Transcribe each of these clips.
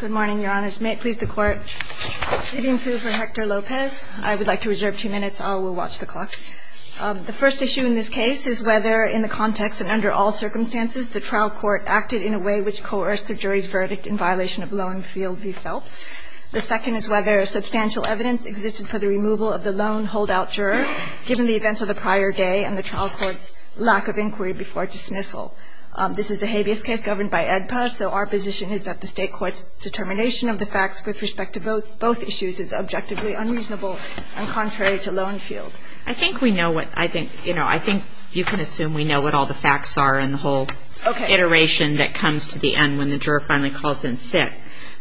Good morning, your honors. May it please the court. Sitting approval for Hector Lopez. I would like to reserve two minutes. I will watch the clock. The first issue in this case is whether, in the context and under all circumstances, the trial court acted in a way which coerced the jury's verdict in violation of loan field v. Phelps. The second is whether substantial evidence existed for the removal of the loan holdout juror, given the events of the prior day and the trial court's lack of inquiry before dismissal. This is a habeas case governed by AEDPA, so our position is that the state court's determination of the facts with respect to both issues is objectively unreasonable and contrary to loan field. I think you can assume we know what all the facts are in the whole iteration that comes to the end when the juror finally calls in sick,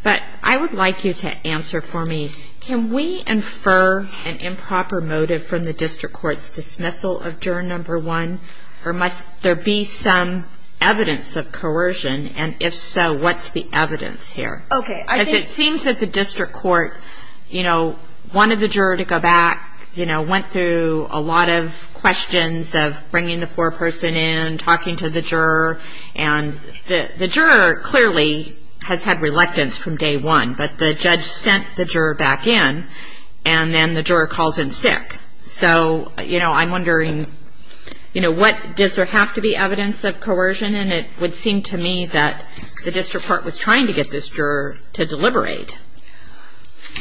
but I would like you to answer for me, can we infer an improper motive from the district court's dismissal of juror number one, or must there be some evidence of coercion, and if so, what's the evidence here? Because it seems that the district court wanted the juror to go back, went through a lot of questions of bringing the foreperson in, talking to the juror, and the juror clearly has had reluctance from day one, but the judge sent the juror back in, and then the juror calls in sick. So, you know, I'm wondering, you know, does there have to be evidence of coercion, and it would seem to me that the district court was trying to get this juror to deliberate.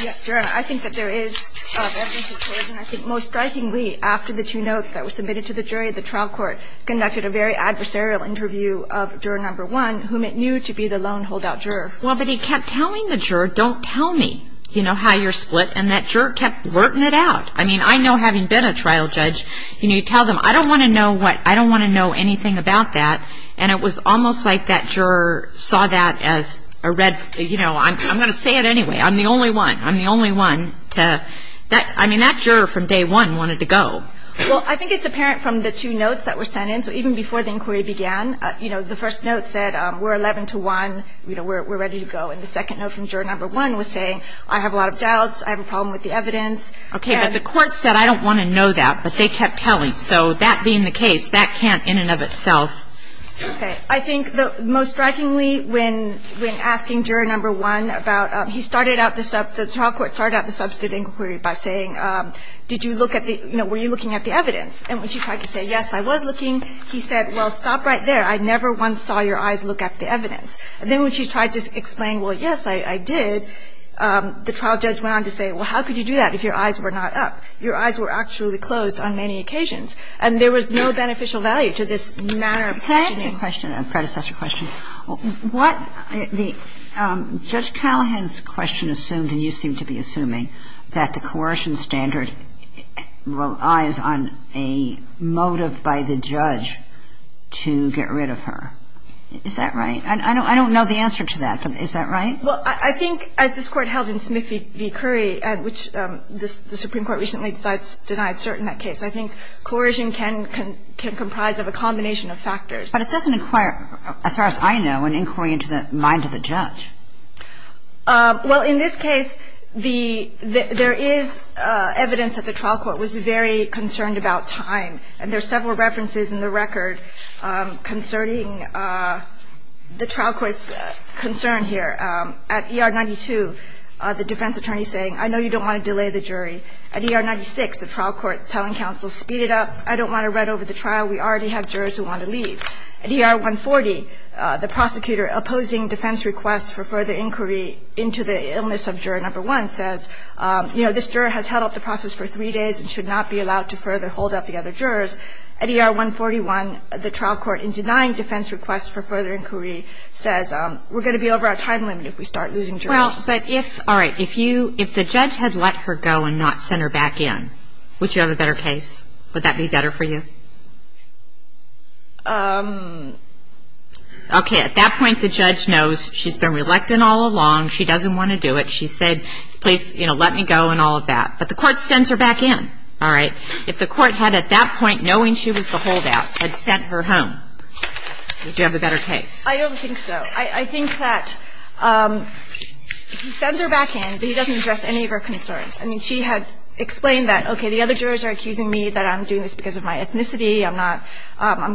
Yes, Your Honor, I think that there is evidence of coercion. I think most strikingly, after the two notes that were submitted to the jury, the trial court conducted a very adversarial interview of juror number one, whom it knew to be the loan holdout juror. Well, but he kept telling the juror, don't tell me, you know, how you're split, and that juror kept working it out. I mean, I know having been a trial judge, you know, you tell them, I don't want to know what, I don't want to know anything about that, and it was almost like that juror saw that as a red, you know, I'm going to say it anyway, I'm the only one, I'm the only one to, that, I mean, that juror from day one wanted to go. Well, I think it's apparent from the two notes that were sent in. So even before the inquiry began, you know, the first note said, we're 11-1, you know, we're ready to go. And the second note from juror number one was saying, I have a lot of doubts, I have a problem with the evidence. And the court said, I don't want to know that, but they kept telling. So that being the case, that can't in and of itself. Okay. I think the most strikingly, when, when asking juror number one about, he started out the, the trial court started out the substantive inquiry by saying, did you look at the, you know, were you looking at the evidence? And when she tried to say, yes, I was looking, he said, well, stop right there. I never once saw your eyes look at the evidence. And then when she tried to explain, well, yes, I, I did, the trial judge went on to say, well, how could you do that if your eyes were not up? Your eyes were actually closed on many occasions. And there was no beneficial value to this manner of questioning. Can I ask you a question, a predecessor question? What the, Judge Callahan's question assumed, and you seem to be assuming, that the coercion standard relies on a motive by the judge to get rid of her. Is that right? I don't know the answer to that, but is that right? Well, I think as this Court held in Smith v. Curry, which the Supreme Court recently decides denied cert in that case, I think coercion can, can, can comprise of a combination of factors. But it doesn't require, as far as I know, an inquiry into the mind of the judge. Well, in this case, the, there is evidence that the trial court was very concerned about time. And there are several references in the record concerning the trial court's concern here. At ER 92, the defense attorney saying, I know you don't want to delay the jury. At ER 96, the trial court telling counsel, speed it up. I don't want to run over the trial. We already have jurors who want to leave. At ER 140, the prosecutor opposing defense requests for further inquiry into the illness of juror number one says, you know, this juror has held up the process for three days and should not be allowed to further hold up the other jurors. At ER 141, the trial court in denying defense requests for further inquiry says, we're going to be over our time limit if we start losing jurors. Well, but if, all right, if you, if the judge had let her go and not sent her back in, would you have a better case? Would that be better for you? Okay. At that point, the judge knows she's been reluctant all along. She doesn't want to do it. She said, please, you know, let me go and all of that. But the court sends her back in. All right. If the court had at that point, knowing she was the holdout, had sent her home, would you have a better case? I don't think so. I think that he sends her back in, but he doesn't address any of her concerns. I mean, she had explained that, okay, the other jurors are accusing me that I'm doing this because of my ethnicity, I'm not,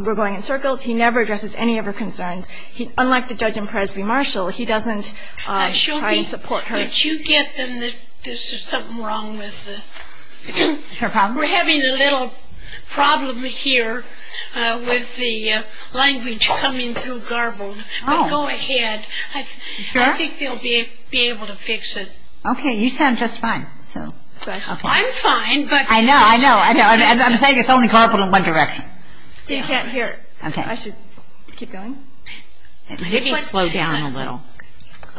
we're going in circles. He never addresses any of her concerns. Unlike the judge in Presby-Marshall, he doesn't try and support her. But you get them that there's something wrong with the, we're having a little problem here with the language coming through garbled. Go ahead. I think they'll be able to fix it. Okay. You sound just fine. I'm fine. I know. I know. I'm saying it's only garbled in one direction. You can't hear. Okay. I should keep going? Maybe slow down a little.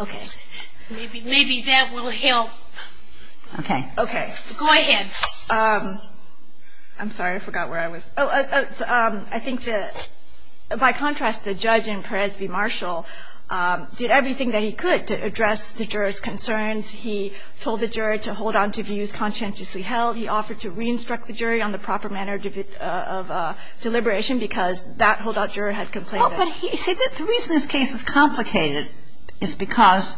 Okay. Maybe that will help. Okay. Okay. Go ahead. I'm sorry. I forgot where I was. I think that, by contrast, the judge in Presby-Marshall did everything that he could to address the juror's concerns. He told the juror to hold on to views conscientiously held. He offered to re-instruct the jury on the proper manner of deliberation because that holdout juror had complained. The reason this case is complicated is because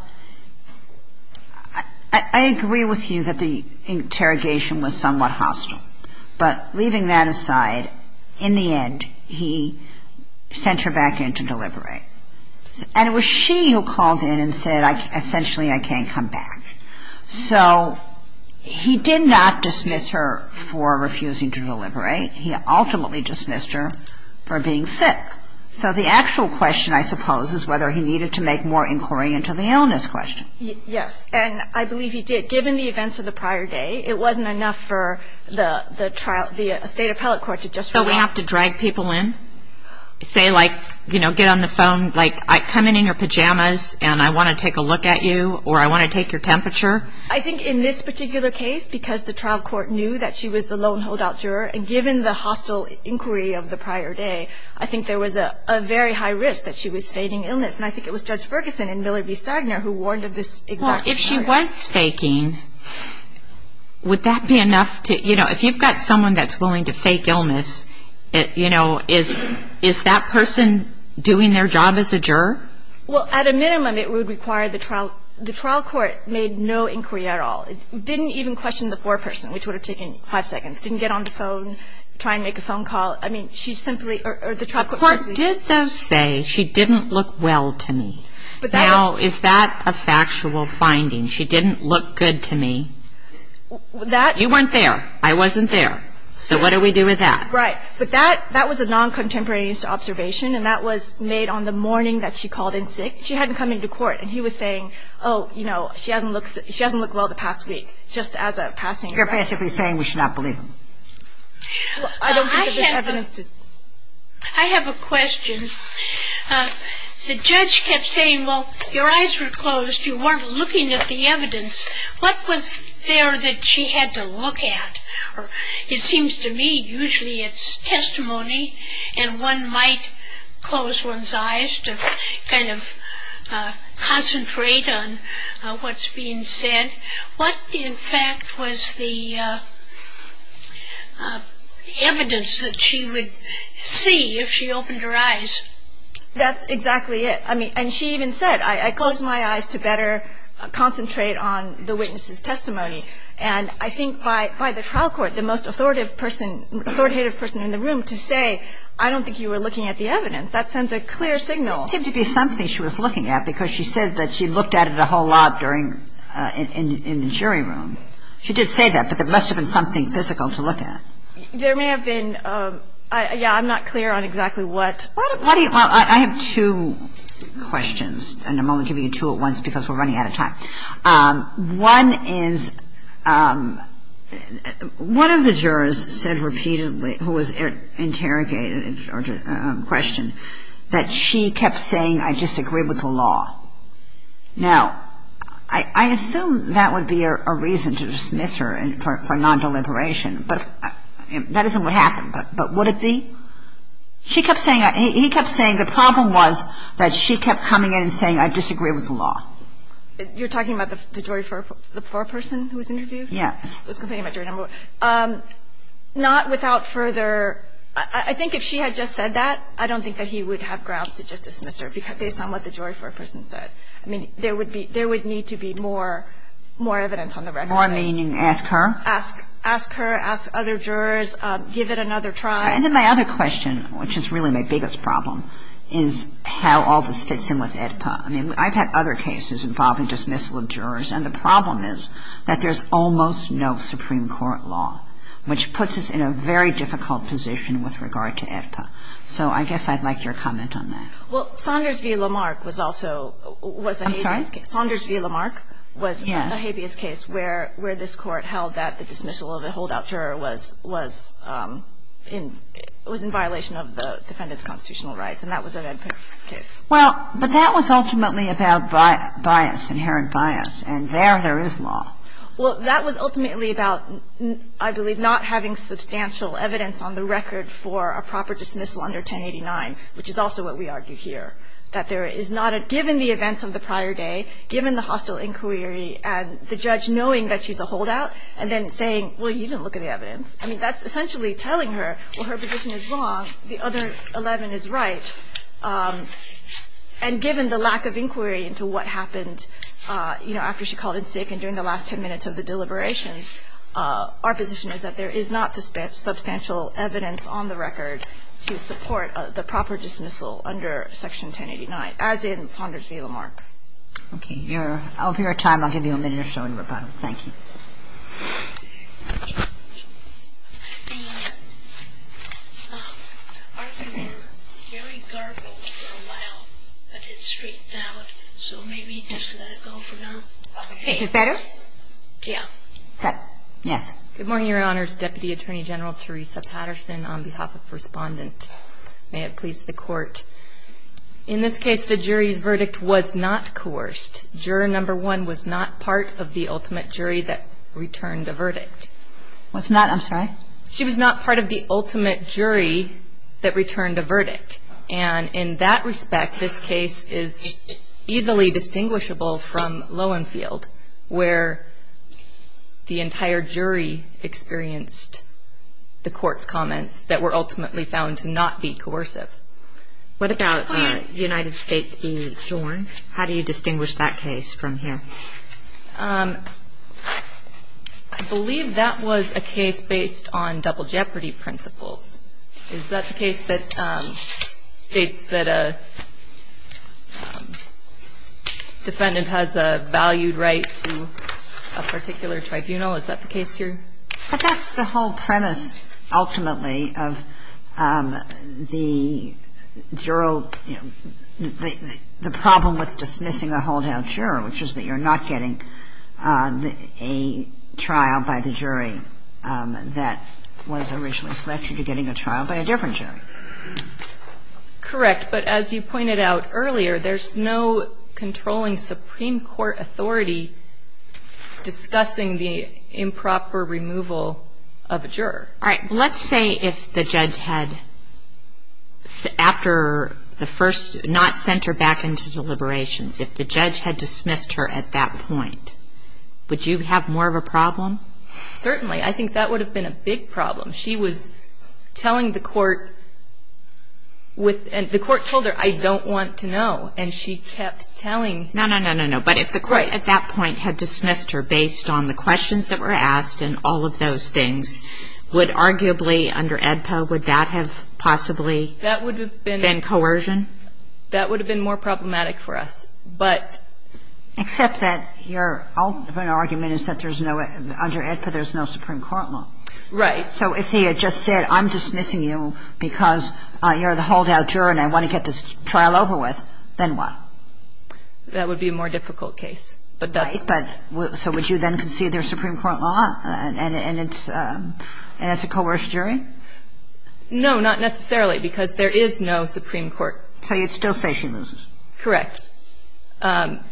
I agree with you that the interrogation was somewhat hostile. But leaving that aside, in the end, he sent her back in to deliberate. And it was she who called in and said, essentially, I can't come back. So he did not dismiss her for refusing to deliberate. He ultimately dismissed her for being sick. So the actual question, I suppose, is whether he needed to make more inquiry into the illness question. Yes. And I believe he did. Given the events of the prior day, it wasn't enough for the state appellate court to just write off. So we have to drag people in? Say, like, you know, get on the phone, like, come in in your pajamas and I want to take a look at you or I want to take your temperature? I think in this particular case, because the trial court knew that she was the lone holdout juror, and given the hostile inquiry of the prior day, I think there was a very high risk that she was faking illness. And I think it was Judge Ferguson and Miller v. Stagner who warned of this exact scenario. Well, if she was faking, would that be enough to – you know, if you've got someone that's willing to fake illness, you know, is that person doing their job as a juror? Well, at a minimum, it would require the trial – the trial court made no inquiry at all. It didn't even question the foreperson, which would have taken five seconds. Didn't get on the phone, try and make a phone call. I mean, she simply – or the trial court – The court did, though, say she didn't look well to me. But that was – Now, is that a factual finding? She didn't look good to me? That – You weren't there. I wasn't there. So what do we do with that? Right. But that – that was a non-contemporaneous observation, and that was made on the morning that she called in sick. She hadn't come into court, and he was saying, oh, you know, she hasn't looked – she hasn't looked well the past week, just as a passing – You're passively saying we should not believe him. I don't think that this evidence – I have a question. The judge kept saying, well, your eyes were closed. You weren't looking at the evidence. What was there that she had to look at? It seems to me usually it's testimony, and one might close one's eyes to kind of concentrate on what's being said. What, in fact, was the evidence that she would see if she opened her eyes? That's exactly it. I mean, and she even said, I close my eyes to better concentrate on the witness's testimony. And I think by the trial court, the most authoritative person in the room to say, I don't think you were looking at the evidence, that sends a clear signal. It seemed to be something she was looking at, because she said that she looked at it a whole lot during – in the jury room. She did say that, but there must have been something physical to look at. There may have been – yeah, I'm not clear on exactly what. Why do you – well, I have two questions, and I'm only giving you two at once because we're running out of time. One is, one of the jurors said repeatedly, who was interrogated or questioned, that she kept saying, I disagree with the law. Now, I assume that would be a reason to dismiss her for non-deliberation. But that isn't what happened. But would it be? She kept saying – he kept saying the problem was that she kept coming in and saying, I disagree with the law. You're talking about the jury for the poor person who was interviewed? Yes. I was complaining about jury number one. Not without further – I think if she had just said that, I don't think that he would have grounds to just dismiss her based on what the jury for a person said. I mean, there would be – there would need to be more evidence on the record. More meaning ask her? Ask her, ask other jurors, give it another try. And then my other question, which is really my biggest problem, is how all this fits in with AEDPA. I mean, I've had other cases involving dismissal of jurors, and the problem is that there's almost no Supreme Court law, which puts us in a very difficult position with regard to AEDPA. So I guess I'd like your comment on that. Well, Saunders v. Lamarck was also – was a habeas case. I'm sorry? Saunders v. Lamarck was a habeas case where this Court held that the dismissal of a holdout juror was in violation of the defendant's constitutional rights, and that was an AEDPA case. Well, but that was ultimately about bias, inherent bias. And there, there is law. Well, that was ultimately about, I believe, not having substantial evidence on the record for a proper dismissal under 1089, which is also what we argued here. That there is not a – given the events of the prior day, given the hostile inquiry and the judge knowing that she's a holdout, and then saying, well, you didn't look at the evidence. I mean, that's essentially telling her, well, her position is wrong. The other 11 is right. And given the lack of inquiry into what happened, you know, after she called in sick and during the last 10 minutes of the deliberations, our position is that there is not substantial evidence on the record to support the proper dismissal under Section 1089, as in Saunders v. Lamarck. Okay. I'll give you a time. I'll give you a minute or so in rebuttal. Thank you. The argument was very garbled for a while, but it straightened out, so maybe just let it go for now. Is it better? Yeah. Okay. Yes. Good morning, Your Honors. Deputy Attorney General Teresa Patterson on behalf of Respondent. May it please the Court. In this case, the jury's verdict was not coerced. Juror number one was not part of the ultimate jury that returned a verdict. Was not? I'm sorry? She was not part of the ultimate jury that returned a verdict. And in that respect, this case is easily distinguishable from Lowenfield, where the entire jury experienced the court's comments that were ultimately found to not be coercive. What about the United States v. Jordan? How do you distinguish that case from here? I believe that was a case based on double jeopardy principles. Is that the case that states that a defendant has a valued right to a particular tribunal? Is that the case here? But that's the whole premise, ultimately, of the problem with dismissing a holdout jury, which is that you're not getting a trial by the jury that was originally selected. You're getting a trial by a different jury. Correct. But as you pointed out earlier, there's no controlling Supreme Court authority discussing the improper removal of a juror. All right. Let's say if the judge had, after the first, not sent her back into deliberations, if the judge had dismissed her at that point, would you have more of a problem? Certainly. I think that would have been a big problem. She was telling the court with the court told her, I don't want to know. And she kept telling. No, no, no, no, no. But if the court at that point had dismissed her based on the questions that were asked and all of those things, would arguably under AEDPA, would that have possibly been coercion? That would have been more problematic for us. But — Except that your ultimate argument is that there's no — under AEDPA, there's no Supreme Court law. Right. So if he had just said, I'm dismissing you because you're the holdout juror and I want to get this trial over with, then what? That would be a more difficult case. But that's — So would you then concede there's Supreme Court law and it's a coerced jury? No, not necessarily, because there is no Supreme Court. So you'd still say she loses. Correct.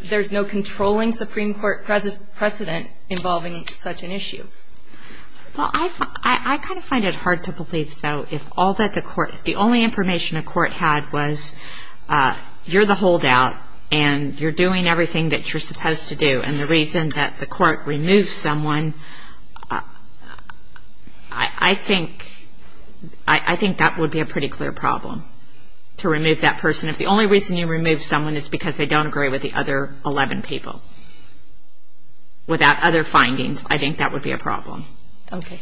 There's no controlling Supreme Court precedent involving such an issue. Well, I kind of find it hard to believe, though, if all that the court — if the only information the court had was, you're the holdout and you're doing everything that you're supposed to do, and the reason that the court removes someone, I think that would be a pretty clear problem, to remove that person. If the only reason you remove someone is because they don't agree with the other 11 people, without other findings, I think that would be a problem. Okay.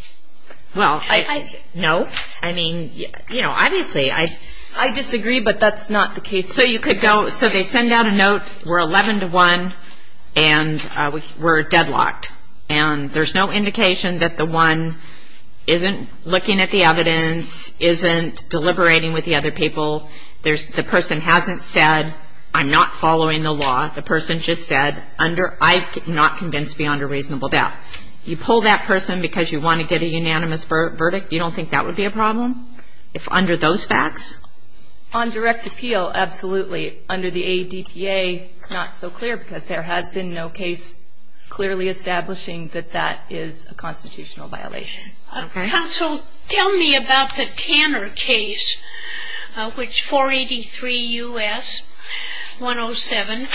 Well, I — I — No. I mean, you know, obviously, I disagree, but that's not the case. So you could go — so they send out a note, we're 11 to 1, and we're deadlocked. And there's no indication that the one isn't looking at the evidence, isn't deliberating with the other people. There's — the person hasn't said, I'm not following the law. The person just said, under — I'm not convinced beyond a reasonable doubt. You pull that person because you want to get a unanimous verdict? You don't think that would be a problem? If under those facts? On direct appeal, absolutely. Under the ADPA, not so clear, because there has been no case clearly establishing that that is a constitutional violation. Okay. Counsel, tell me about the Tanner case, which 483 U.S., 107.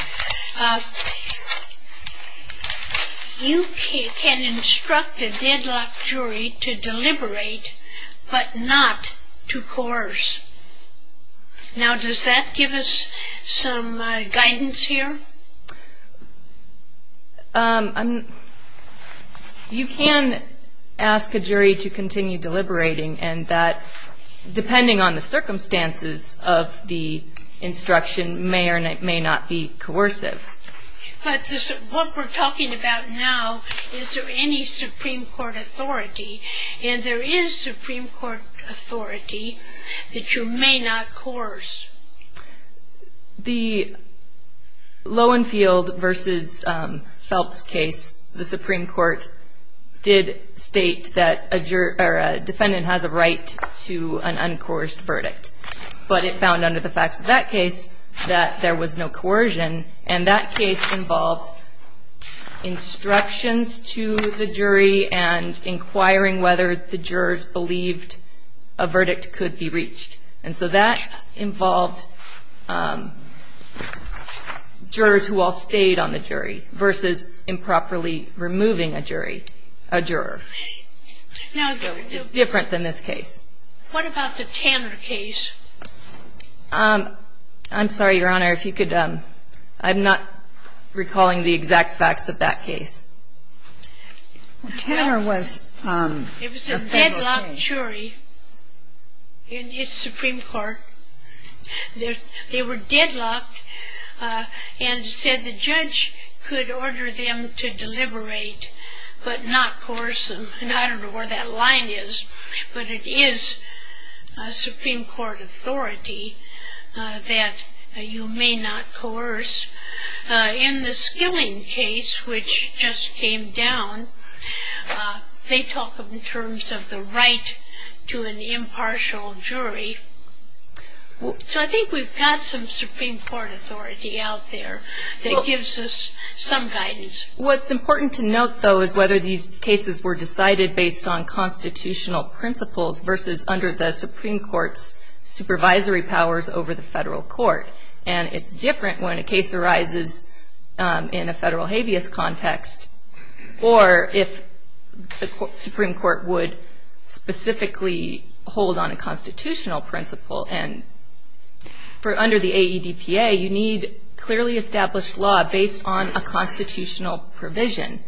You can instruct a deadlocked jury to deliberate, but not to course. Now, does that give us some guidance here? I'm — you can ask a jury to continue deliberating, and that, depending on the circumstances of the instruction, may or may not be coercive. But what we're talking about now, is there any Supreme Court authority? And there is Supreme Court authority that you may not course. The Lowenfield v. Phelps case, the Supreme Court did state that a defendant has a right to an uncoursed verdict. But it found under the facts of that case that there was no coercion, and that case involved instructions to the jury and inquiring whether the jurors believed a verdict could be reached. And so that involved jurors who all stayed on the jury versus improperly removing a jury, a juror. It's different than this case. What about the Tanner case? I'm sorry, Your Honor, if you could — I'm not recalling the exact facts of that case. Tanner was a federal case. And it's Supreme Court. They were deadlocked and said the judge could order them to deliberate but not coerce them. And I don't know where that line is, but it is Supreme Court authority that you may not coerce. In the Skilling case, which just came down, they talk in terms of the right to an impartial jury. So I think we've got some Supreme Court authority out there that gives us some guidance. What's important to note, though, is whether these cases were decided based on constitutional principles versus under the Supreme Court's supervisory powers over the federal court. And it's different when a case arises in a federal habeas context or if the Supreme Court would specifically hold on a constitutional principle. And under the AEDPA, you need clearly established law based on a constitutional provision.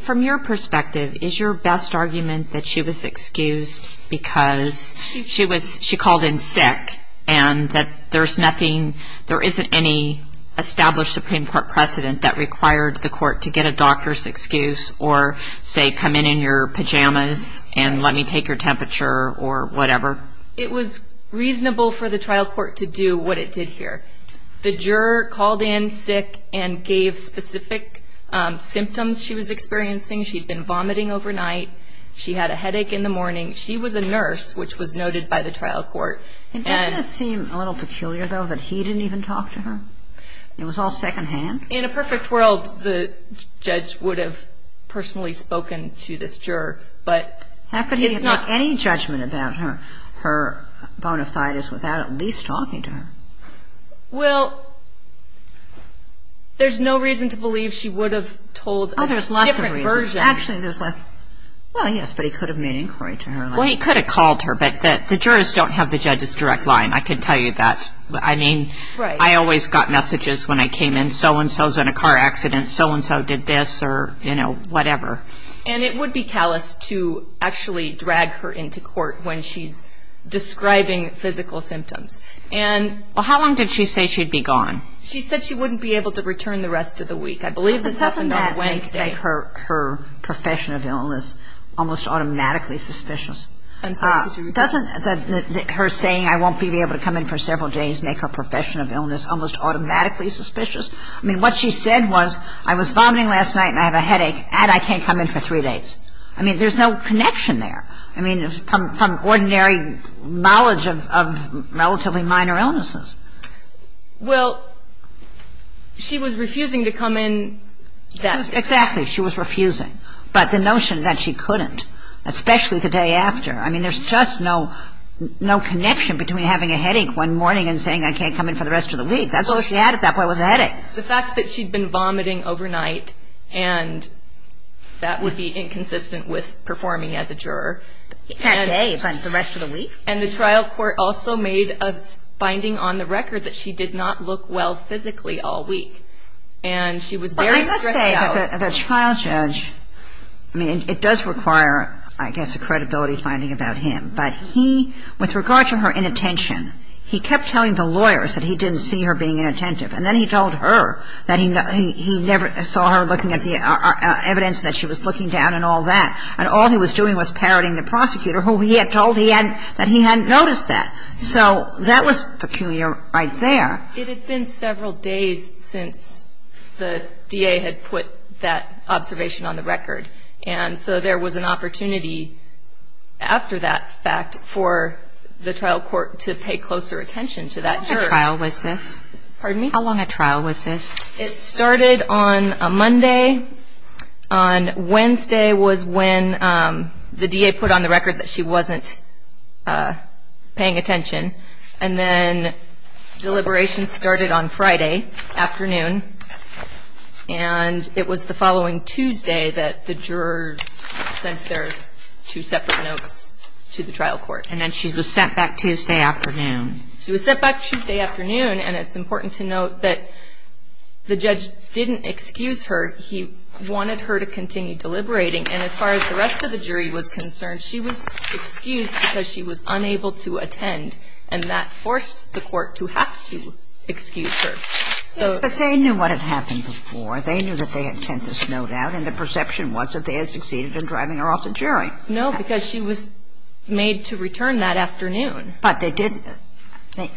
From your perspective, is your best argument that she was excused because she called in sick and that there isn't any established Supreme Court precedent that required the court to get a doctor's excuse or say come in in your pajamas and let me take your temperature or whatever? It was reasonable for the trial court to do what it did here. The juror called in sick and gave specific symptoms she was experiencing. She'd been vomiting overnight. She had a headache in the morning. She was a nurse, which was noted by the trial court. Doesn't it seem a little peculiar, though, that he didn't even talk to her? It was all secondhand? In a perfect world, the judge would have personally spoken to this juror, but it's not. How could he have made any judgment about her bona fides without at least talking to her? Well, there's no reason to believe she would have told a different version. Oh, there's lots of reasons. Actually, there's less. Well, yes, but he could have made inquiry to her. Well, he could have called her, but the jurors don't have the judge's direct line. I can tell you that. I mean, I always got messages when I came in, so-and-so's in a car accident, so-and-so did this or, you know, whatever. And it would be callous to actually drag her into court when she's describing physical symptoms. Well, how long did she say she'd be gone? She said she wouldn't be able to return the rest of the week. I believe this happened on Wednesday. Doesn't her saying, I won't be able to come in for several days, make her profession of illness almost automatically suspicious? I mean, what she said was, I was vomiting last night and I have a headache, and I can't come in for three days. I mean, there's no connection there. I mean, from ordinary knowledge of relatively minor illnesses. Well, she was refusing to come in that day. Exactly. She was refusing, but the notion that she couldn't, especially the day after. I mean, there's just no connection between having a headache one morning and saying I can't come in for the rest of the week. That's all she had at that point was a headache. The fact that she'd been vomiting overnight, and that would be inconsistent with performing as a juror. That day, but the rest of the week? And the trial court also made a finding on the record that she did not look well physically all week. And she was very stressed out. The trial judge, I mean, it does require, I guess, a credibility finding about him. But he, with regard to her inattention, he kept telling the lawyers that he didn't see her being inattentive. And then he told her that he never saw her looking at the evidence, that she was looking down and all that. And all he was doing was parroting the prosecutor, who he had told that he hadn't noticed that. So that was peculiar right there. It had been several days since the DA had put that observation on the record. And so there was an opportunity after that fact for the trial court to pay closer attention to that juror. How long a trial was this? Pardon me? How long a trial was this? It started on a Monday. On Wednesday was when the DA put on the record that she wasn't paying attention. And then deliberation started on Friday afternoon. And it was the following Tuesday that the jurors sent their two separate notes to the trial court. And then she was sent back Tuesday afternoon. She was sent back Tuesday afternoon. And it's important to note that the judge didn't excuse her. He wanted her to continue deliberating. And as far as the rest of the jury was concerned, she was excused because she was unable to attend. And that forced the court to have to excuse her. But they knew what had happened before. They knew that they had sent this note out. And the perception was that they had succeeded in driving her off the jury. No, because she was made to return that afternoon. But they did. And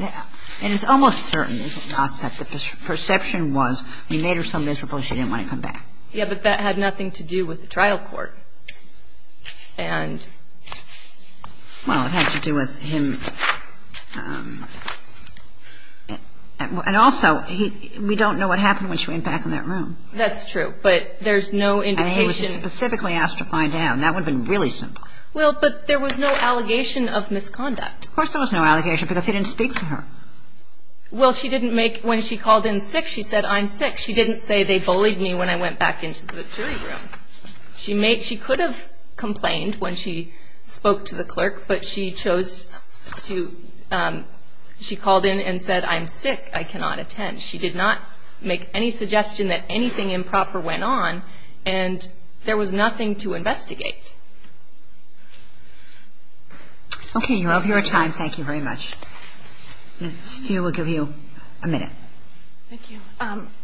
it's almost certain that the perception was, we made her so miserable she didn't want to come back. Yeah, but that had nothing to do with the trial court. And... Well, it had to do with him. And also, we don't know what happened when she went back in that room. That's true. But there's no indication. And he was specifically asked to find out. And that would have been really simple. Well, but there was no allegation of misconduct. Of course there was no allegation because he didn't speak to her. Well, she didn't make ñ when she called in sick, she said, I'm sick. She didn't say they bullied me when I went back into the jury room. She made ñ she could have complained when she spoke to the clerk. But she chose to ñ she called in and said, I'm sick. I cannot attend. She did not make any suggestion that anything improper went on. And there was nothing to investigate. Okay. You're over your time. Thank you very much. Ms. Feer will give you a minute. Thank you.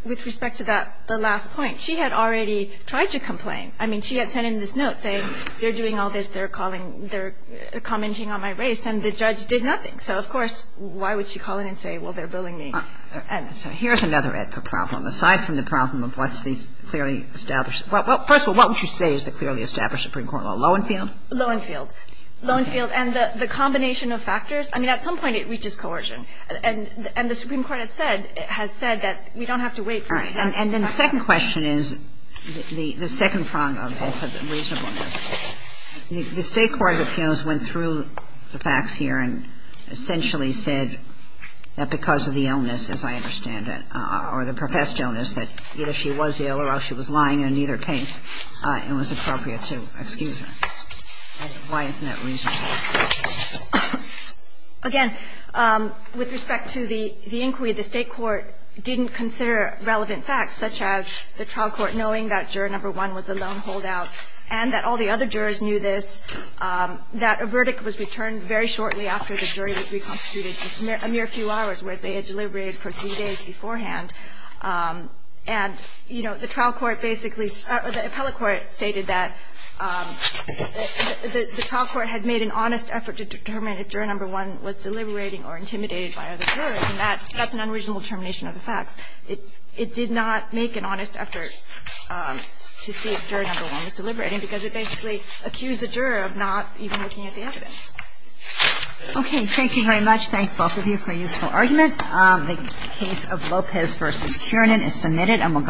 With respect to that, the last point. I mean, she had already tried to complain. I mean, she had sent in this note saying, you're doing all this. They're calling ñ they're commenting on my race. And the judge did nothing. So, of course, why would she call in and say, well, they're bullying me? So here's another AEDPA problem. Aside from the problem of what's these clearly established ñ well, first of all, what would you say is the clearly established Supreme Court law? Lowenfield? Lowenfield. Lowenfield. And the combination of factors. I mean, at some point it reaches coercion. And the Supreme Court has said that we don't have to wait for it. All right. And then the second question is, the second prong of reasonableness. The State court of appeals went through the facts here and essentially said that because of the illness, as I understand it, or the professed illness, that either she was ill or she was lying, and in either case, it was appropriate to excuse her. Why isn't that reasonable? Again, with respect to the inquiry, the State court didn't consider relevant facts, such as the trial court knowing that juror number one was the lone holdout and that all the other jurors knew this, that a verdict was returned very shortly after the jury was reconstituted, just a mere few hours, whereas they had deliberated for three days beforehand. And, you know, the trial court basically ñ or the appellate court stated that the trial court had made an honest effort to determine if juror number one was deliberating or intimidated by other jurors, and that's an unreasonable determination of the facts. It did not make an honest effort to see if juror number one was deliberating because it basically accused the juror of not even looking at the evidence. Okay. Thank you very much. Thank both of you for a useful argument. The case of Lopez v. Kiernan is submitted.